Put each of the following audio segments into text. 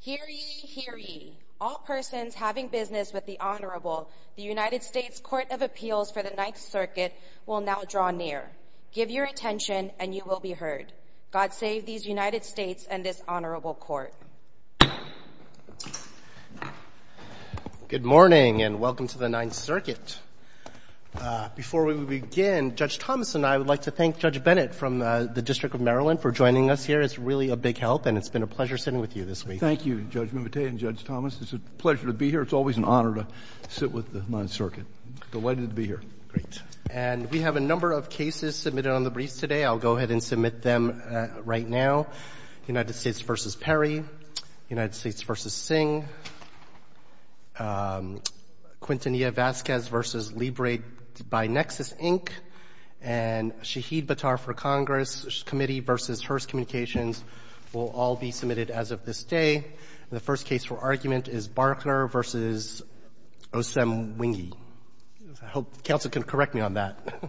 Hear ye, hear ye. All persons having business with the Honorable, the United States Court of Appeals for the Ninth Circuit will now draw near. Give your attention, and you will be heard. God save these United States and this Honorable Court. Good morning, and welcome to the Ninth Circuit. Before we begin, Judge Thomas and I would like to thank Judge Bennett from the District of Maryland for joining us here. It's really a big help, and it's been a pleasure sitting with you this week. Thank you, Judge Mimoutet and Judge Thomas. It's a pleasure to be here. It's always an honor to sit with the Ninth Circuit. Delighted to be here. Great. And we have a number of cases submitted on the briefs today. I'll go ahead and submit them right now. United States v. Perry, United States v. Singh, Quintanilla-Vazquez v. Libre by Nexus, Inc., and Shaheed Batar for Congress Committee v. Hearst Communications will all be submitted as of this day. The first case for argument is Barkner v. Osem-Wenge. I hope counsel can correct me on that.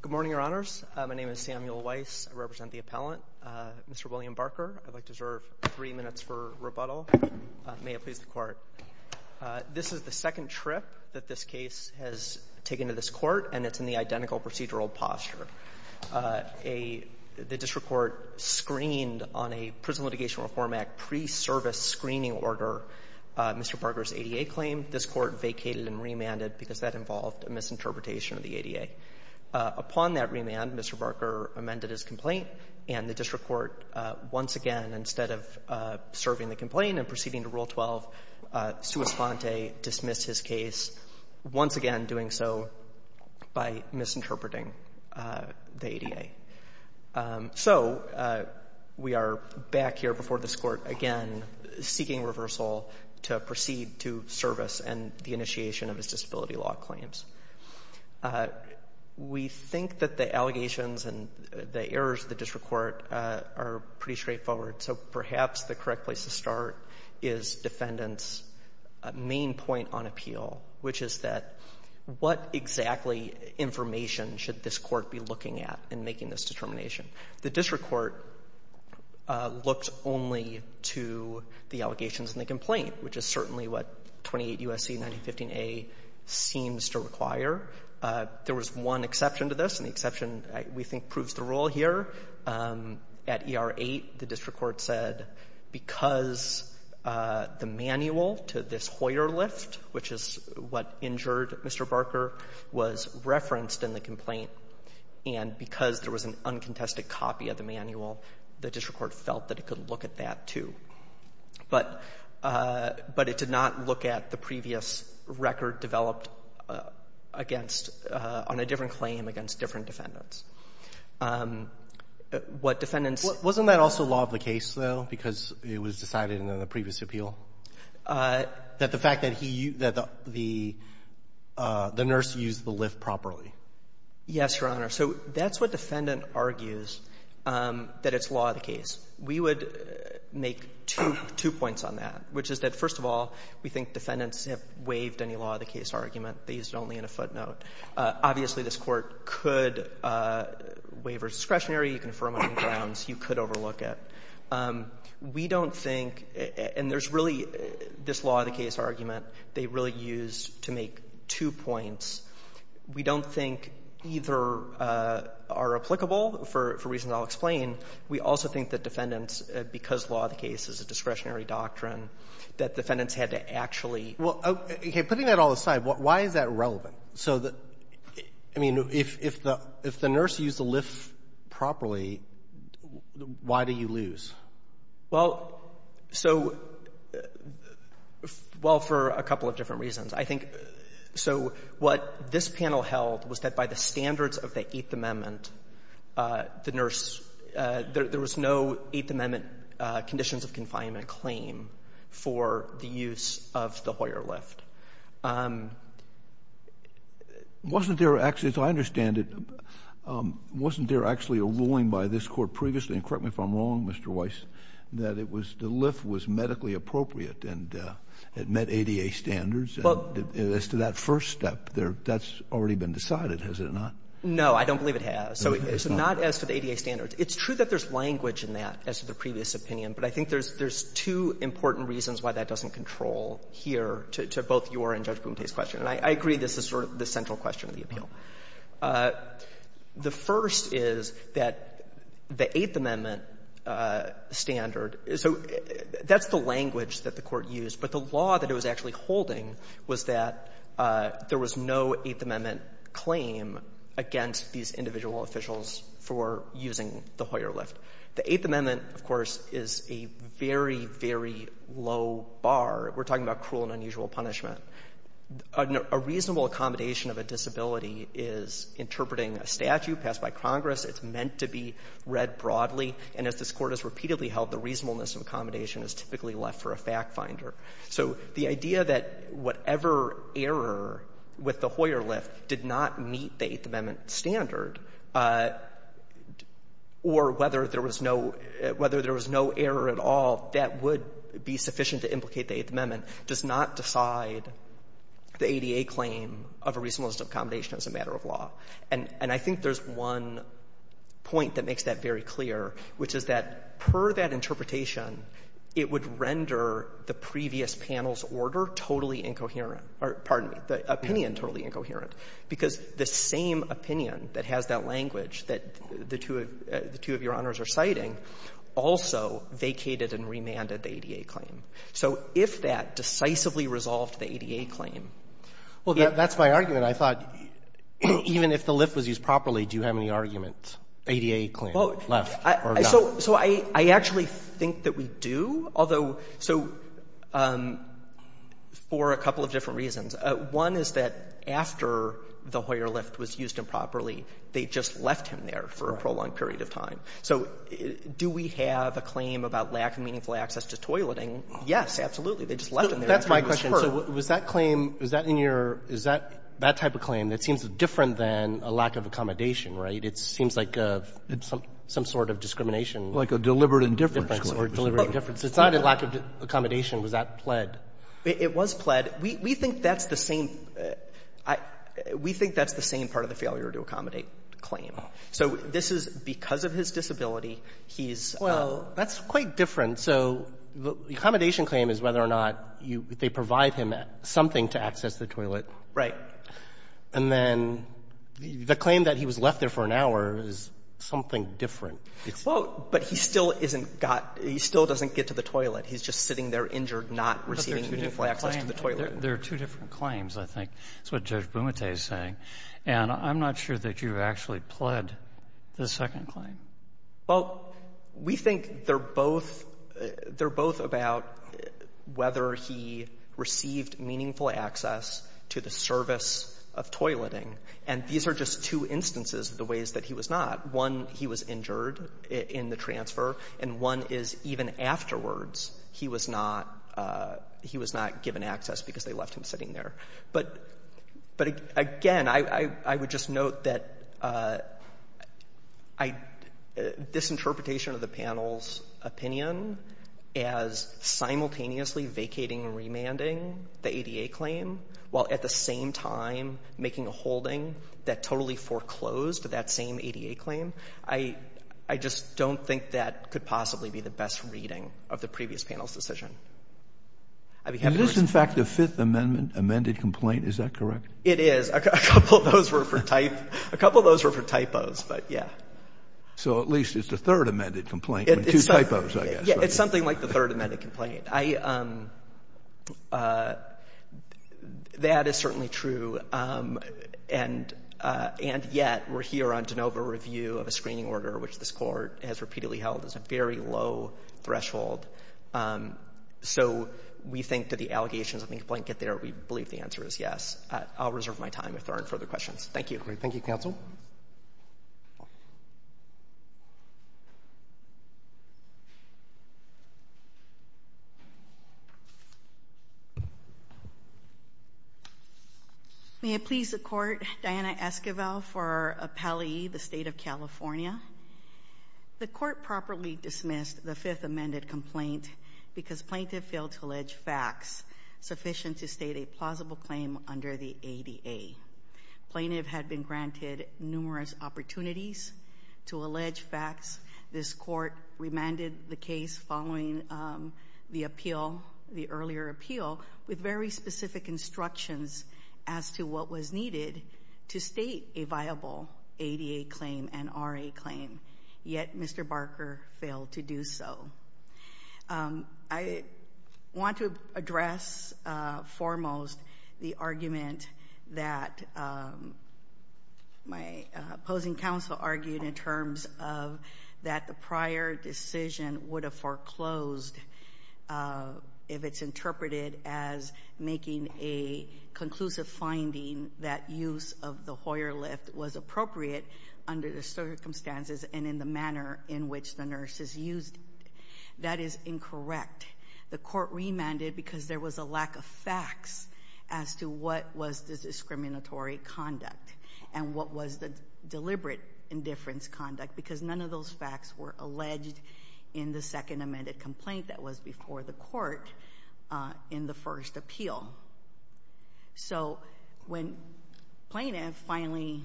Good morning, Your Honors. My name is Samuel Weiss. I represent the appellant, Mr. William Barker. I'd like to serve three minutes for rebuttal. May it please the Court. This is the second trip that this case has taken to this Court, and it's in the identical procedural posture. A — the district court screened on a Prison Litigation Reform Act pre-service screening order Mr. Barker's ADA claim. This Court vacated and remanded because that involved a misinterpretation of the ADA. Upon that remand, Mr. Barker amended his complaint, and the district court, once again, instead of serving the complaint and proceeding to Rule 12, sua sponte, dismissed his case, once again, doing so by misinterpreting the ADA. So we are back here before this Court, again, seeking reversal to proceed to service and the initiation of his disability law claims. We think that the allegations and the errors of the district court are pretty straightforward. So perhaps the correct place to start is Defendant's main point on appeal, which is that what exactly information should this court be looking at in making this determination? The district court looked only to the allegations in the complaint, which is certainly what 28 U.S.C. 1915a seems to require. There was one exception to this, and the exception, we think, proves the rule here. At ER 8, the district court said, because the manual to this Hoyer lift, which is what injured Mr. Barker, was referenced in the complaint, and because there was an uncontested copy of the manual, the district court felt that it could look at that, too. But it did not look at the previous record developed on a different claim against different defendants. What defendants ---- Wasn't that also law of the case, though, because it was decided in the previous appeal? That the fact that he used the the nurse used the lift properly? Yes, Your Honor. So that's what Defendant argues, that it's law of the case. We would make two points on that, which is that, first of all, we think defendants have waived any law of the case argument. They used it only in a footnote. Obviously, this Court could waive or discretionary, you can affirm on grounds, you could overlook it. We don't think ---- and there's really this law of the case argument they really used to make two points. We don't think either are applicable, for reasons I'll explain. We also think that defendants, because law of the case is a discretionary doctrine, that defendants had to actually ---- Well, putting that all aside, why is that relevant? So the ---- I mean, if the nurse used the lift properly, why do you lose? Well, so ---- well, for a couple of different reasons. I think so what this panel held was that by the standards of the Eighth Amendment, the nurse ---- there was no Eighth Amendment conditions of confinement claim for the use of the Hoyer lift. Wasn't there actually, as I understand it, wasn't there actually a ruling by this Court previously, and correct me if I'm wrong, Mr. Weiss, that it was the lift was medically appropriate and it met ADA standards? And as to that first step, that's already been decided, has it not? No, I don't believe it has. So it's not as to the ADA standards. It's true that there's language in that, as to the previous opinion, but I think there's two important reasons why that doesn't control here to both your and Judge Bumteh's question. And I agree this is sort of the central question of the appeal. The first is that the Eighth Amendment standard ---- so that's the language that the Court used, but the law that it was actually holding was that there was no Eighth Amendment claim against these individual officials for using the Hoyer lift. The Eighth Amendment, of course, is a very, very low bar. We're talking about cruel and unusual punishment. A reasonable accommodation of a disability is interpreting a statute passed by Congress. It's meant to be read broadly. And as this Court has repeatedly held, the reasonableness of accommodation is typically left for a factfinder. So the idea that whatever error with the Hoyer lift did not meet the Eighth Amendment standard, or whether there was no error at all that would be sufficient to implicate the Eighth Amendment, does not decide the ADA claim of a reasonableness of accommodation as a matter of law. And I think there's one point that makes that very clear, which is that, per that interpretation, it would render the previous panel's order totally incoherent or, pardon me, the opinion totally incoherent, because the same opinion that has that language that the two of your Honors are citing also vacated and remanded the ADA claim. So if that decisively resolved the ADA claim, it would not. Roberts. Well, that's my argument. I thought even if the lift was used properly, do you have any argument, ADA claim left or not? So I actually think that we do, although so for a couple of different reasons. One is that after the Hoyer lift was used improperly, they just left him there for a prolonged period of time. So do we have a claim about lack of meaningful access to toileting? Yes, absolutely. They just left him there. That's my question. So was that claim, was that in your — is that that type of claim that seems different than a lack of accommodation, right? It seems like some sort of discrimination. Like a deliberate indifference or deliberate indifference. It's not a lack of accommodation. Was that pled? It was pled. We think that's the same — we think that's the same part of the failure-to-accommodate claim. So this is because of his disability, he's — Well, that's quite different. So the accommodation claim is whether or not they provide him something to access the toilet. Right. And then the claim that he was left there for an hour is something different. Well, but he still isn't got — he still doesn't get to the toilet. He's just sitting there injured, not receiving meaningful access to the toilet. There are two different claims, I think, is what Judge Bumate is saying. And I'm not sure that you actually pled the second claim. Well, we think they're both — they're both about whether he received meaningful access to the service of toileting. And these are just two instances of the ways that he was not. One, he was injured in the transfer. And one is even afterwards, he was not — he was not given access because they left him sitting there. But again, I would just note that this interpretation of the panel's opinion as to whether or not he received meaningful access to the toilet, I don't think that's the best reading of the previous panel's decision. I just don't think that could possibly be the best reading of the previous panel's decision. Is this, in fact, a Fifth Amendment amended complaint? Is that correct? It is. A couple of those were for type — a couple of those were for typos, but yeah. So at least it's the third amended complaint, with two typos, I guess. It's something like the third amended complaint. I — that is certainly true, and yet we're here on de novo review of a screening order, which this Court has repeatedly held as a very low threshold. So we think that the allegations on the complaint get there. We believe the answer is yes. I'll reserve my time if there aren't further questions. Thank you. Thank you, counsel. May it please the Court, Diana Esquivel for Appellee, the State of California. The Court properly dismissed the Fifth Amendment complaint because plaintiff failed to allege facts sufficient to state a plausible claim under the ADA. Plaintiff had been granted numerous opportunities to allege facts. This Court remanded the case following the appeal, the earlier appeal, with very specific instructions as to what was needed to state a viable ADA claim and RA claim. Yet Mr. Barker failed to do so. I want to address foremost the argument that my opposing counsel argued in terms of that the prior decision would have foreclosed if it's interpreted as making a conclusive finding that use of the Hoyer lift was appropriate under the circumstances and in the manner in which the nurses used it. That is incorrect. The Court remanded because there was a lack of facts as to what was the discriminatory conduct and what was the deliberate indifference conduct because none of those facts were alleged in the Second Amendment complaint that was before the Court in the first appeal. So when plaintiff finally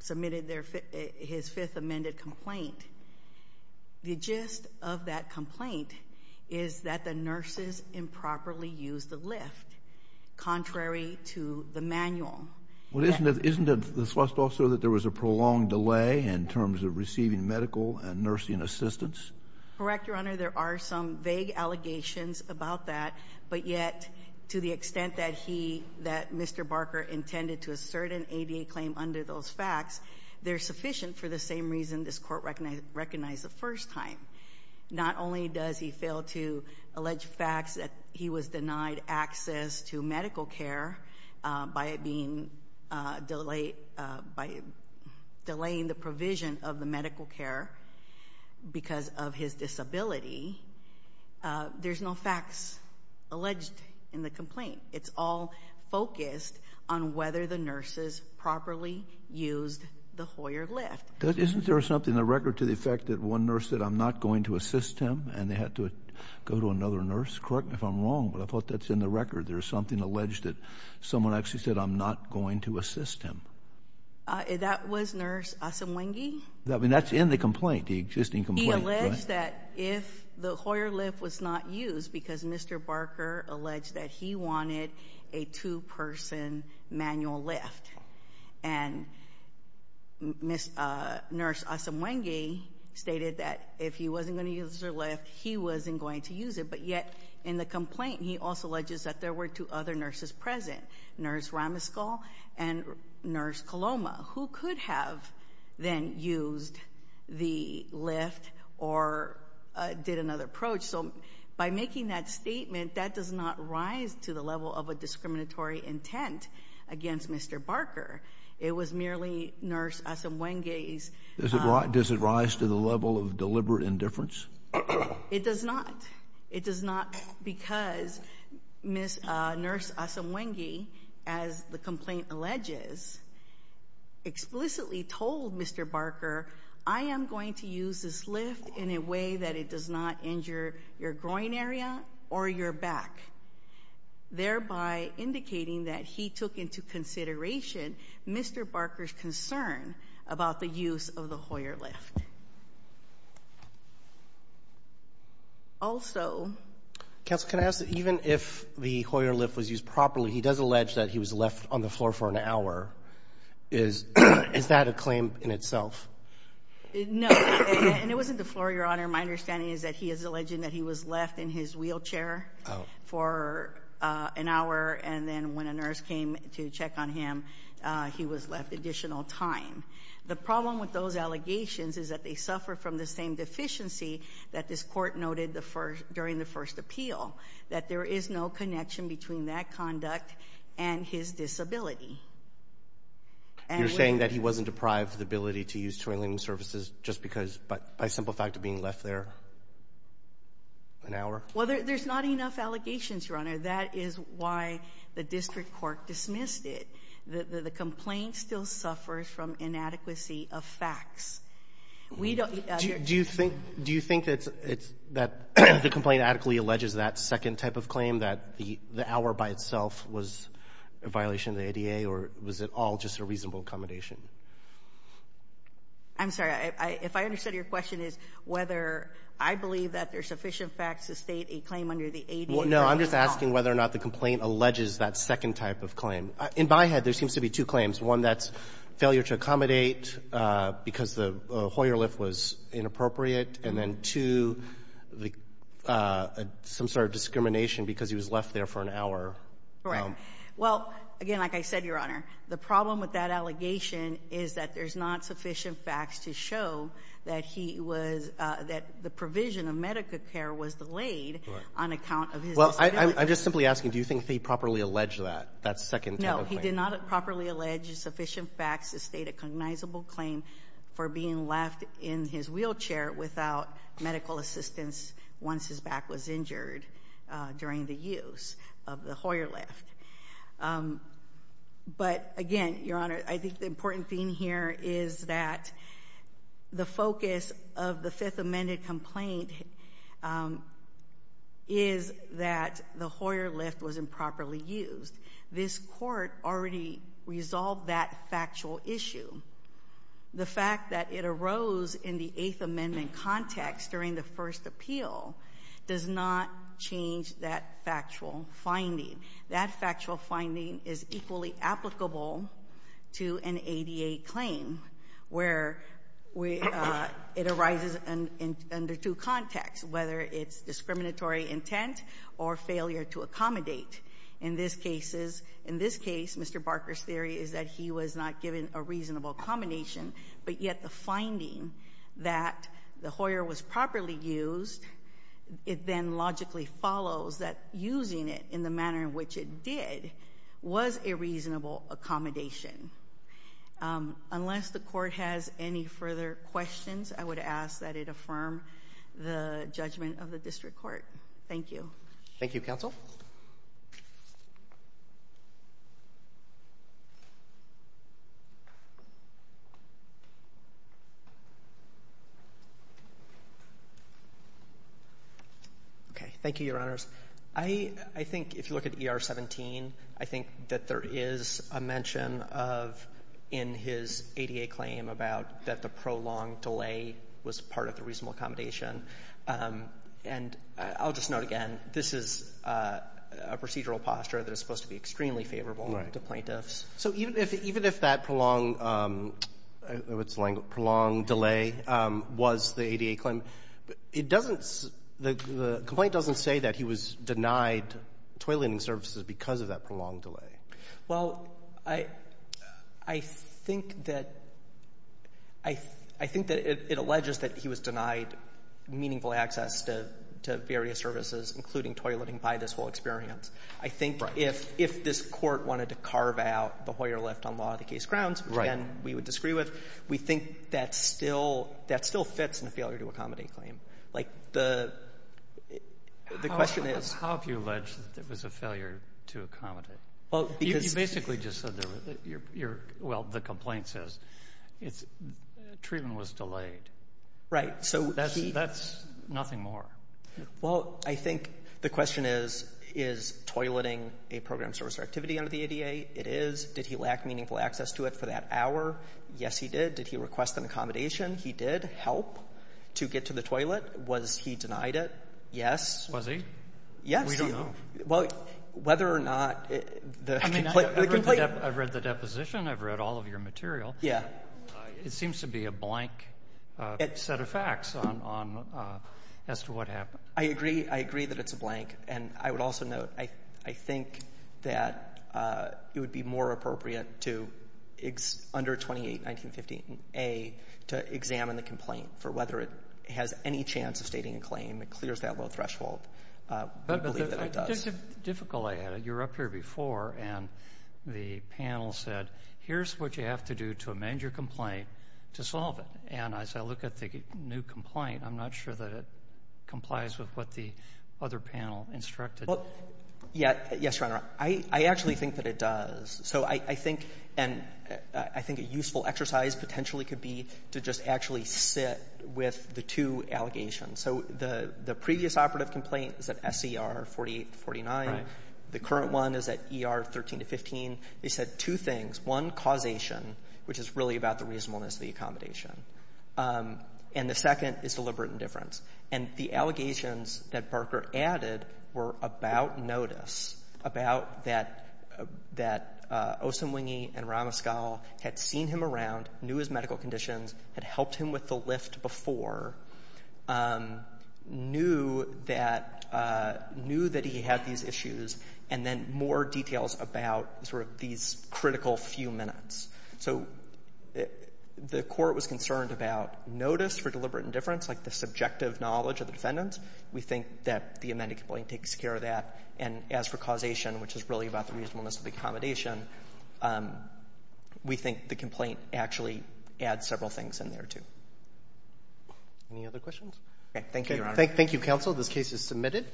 submitted his Fifth Amendment complaint, the gist of that complaint is that the nurses improperly used the lift, contrary to the manual. Isn't it the thrust also that there was a prolonged delay in terms of receiving medical and nursing assistance? Correct, Your Honor. There are some vague allegations about that, but yet to the extent that Mr. Barker intended to assert an ADA claim under those facts, they're sufficient for the same reason this Court recognized the first time. Not only does he fail to allege facts that he was denied access to medical care by delaying the provision of the medical care because of his disability, there's no facts alleged in the complaint. It's all focused on whether the nurses properly used the Hoyer lift. Isn't there something in the record to the effect that one nurse said, I'm not going to assist him, and they had to go to another nurse? Correct me if I'm wrong, but I thought that's in the record. There's something alleged that someone actually said, I'm not going to assist him. That was Nurse Asamwenge? That's in the complaint, the existing complaint. He alleged that if the Hoyer lift was not used because Mr. Barker alleged that he wanted a two-person manual lift, and Nurse Asamwenge stated that if he wasn't going to use her lift, he wasn't going to use it. But yet in the complaint, he also alleges that there were two other nurses present, Nurse Ramaskol and Nurse Coloma, who could have then used the lift or did another approach. So by making that statement, that does not rise to the level of a discriminatory intent against Mr. Barker. It was merely Nurse Asamwenge's— Does it rise to the level of deliberate indifference? It does not. It does not because Nurse Asamwenge, as the complaint alleges, explicitly told Mr. Barker, I am going to use this lift in a way that it does not injure your groin area or your back, thereby indicating that he took into consideration Mr. Barker's concern about the use of the Hoyer lift. Also— Counsel, can I ask that even if the Hoyer lift was used properly, he does allege that he was left on the floor for an hour. Is that a claim in itself? Your Honor, my understanding is that he is alleging that he was left in his wheelchair for an hour, and then when a nurse came to check on him, he was left additional time. The problem with those allegations is that they suffer from the same deficiency that this court noted during the first appeal, that there is no connection between that conduct and his disability. You're saying that he wasn't deprived of the ability to use toiling surfaces just because by simple fact of being left there an hour? Well, there's not enough allegations, Your Honor. That is why the district court dismissed it. The complaint still suffers from inadequacy of facts. Do you think that the complaint adequately alleges that second type of claim, that the hour by itself was a violation of the ADA, or was it all just a reasonable accommodation? I'm sorry. If I understood your question is whether I believe that there are sufficient facts to state a claim under the ADA. No, I'm just asking whether or not the complaint alleges that second type of claim. In my head, there seems to be two claims, one that's failure to accommodate because the Hoyer lift was inappropriate, and then two, some sort of discrimination because he was left there for an hour. Right. Well, again, like I said, Your Honor, the problem with that allegation is that there's not sufficient facts to show that he was that the provision of medical care was delayed on account of his disability. Well, I'm just simply asking, do you think he properly alleged that, that second type of claim? medical assistance once his back was injured during the use of the Hoyer lift? But again, Your Honor, I think the important thing here is that the focus of the Fifth Amendment complaint is that the Hoyer lift was improperly used. This court already resolved that factual issue. The fact that it arose in the Eighth Amendment context during the first appeal does not change that factual finding. That factual finding is equally applicable to an ADA claim where it arises under two contexts, whether it's discriminatory intent or failure to accommodate. In this case, Mr. Barker's theory is that he was not given a reasonable accommodation, but yet the finding that the Hoyer was properly used, it then logically follows that using it in the manner in which it did was a reasonable accommodation. Unless the court has any further questions, I would ask that it affirm the judgment of the district court. Thank you. Thank you, counsel. Okay, thank you, Your Honors. I think if you look at ER 17, I think that there is a mention of, in his ADA claim, about that the prolonged delay was part of the reasonable accommodation. And I'll just note again, this is a procedural posture that is supposed to be extremely favorable to plaintiffs. Right. So even if that prolonged delay was the ADA claim, the complaint doesn't say that he was denied toileting services because of that prolonged delay. Well, I think that it alleges that he was denied meaningful access to various services, including toileting, by this whole experience. I think if this court wanted to carve out the Hoyer left on law of the case grounds, which again we would disagree with, we think that still fits in the failure to accommodate claim. Like the question is — You basically just said, well, the complaint says treatment was delayed. Right. That's nothing more. Well, I think the question is, is toileting a program service or activity under the ADA? It is. Did he lack meaningful access to it for that hour? Yes, he did. Did he request an accommodation? He did help to get to the toilet. Was he denied it? Yes. Was he? Yes. We don't know. Well, whether or not the complaint — I mean, I've read the deposition. I've read all of your material. Yeah. It seems to be a blank set of facts as to what happened. I agree. I agree that it's a blank. And I would also note, I think that it would be more appropriate to, under 28-1915A, to examine the complaint for whether it has any chance of stating a claim. It clears that low threshold. I believe that it does. But the difficulty, you were up here before, and the panel said, here's what you have to do to amend your complaint to solve it. And as I look at the new complaint, I'm not sure that it complies with what the other panel instructed. Well, yes, Your Honor. I actually think that it does. So I think — and I think a useful exercise potentially could be to just actually sit with the two allegations. So the previous operative complaint is at S.E.R. 48-49. Right. The current one is at E.R. 13-15. They said two things. One, causation, which is really about the reasonableness of the accommodation. And the second is deliberate indifference. And the allegations that Barker added were about notice, about that Osunwingi and Ramaskal had seen him around, knew his medical conditions, had helped him with the lift before, knew that he had these issues, and then more details about sort of these critical few minutes. So the court was concerned about notice for deliberate indifference, like the subjective knowledge of the defendant. We think that the amended complaint takes care of that. And as for causation, which is really about the reasonableness of the accommodation, we think the complaint actually adds several things in there, too. Any other questions? Okay. Thank you, Your Honor. Thank you, counsel. This case is submitted.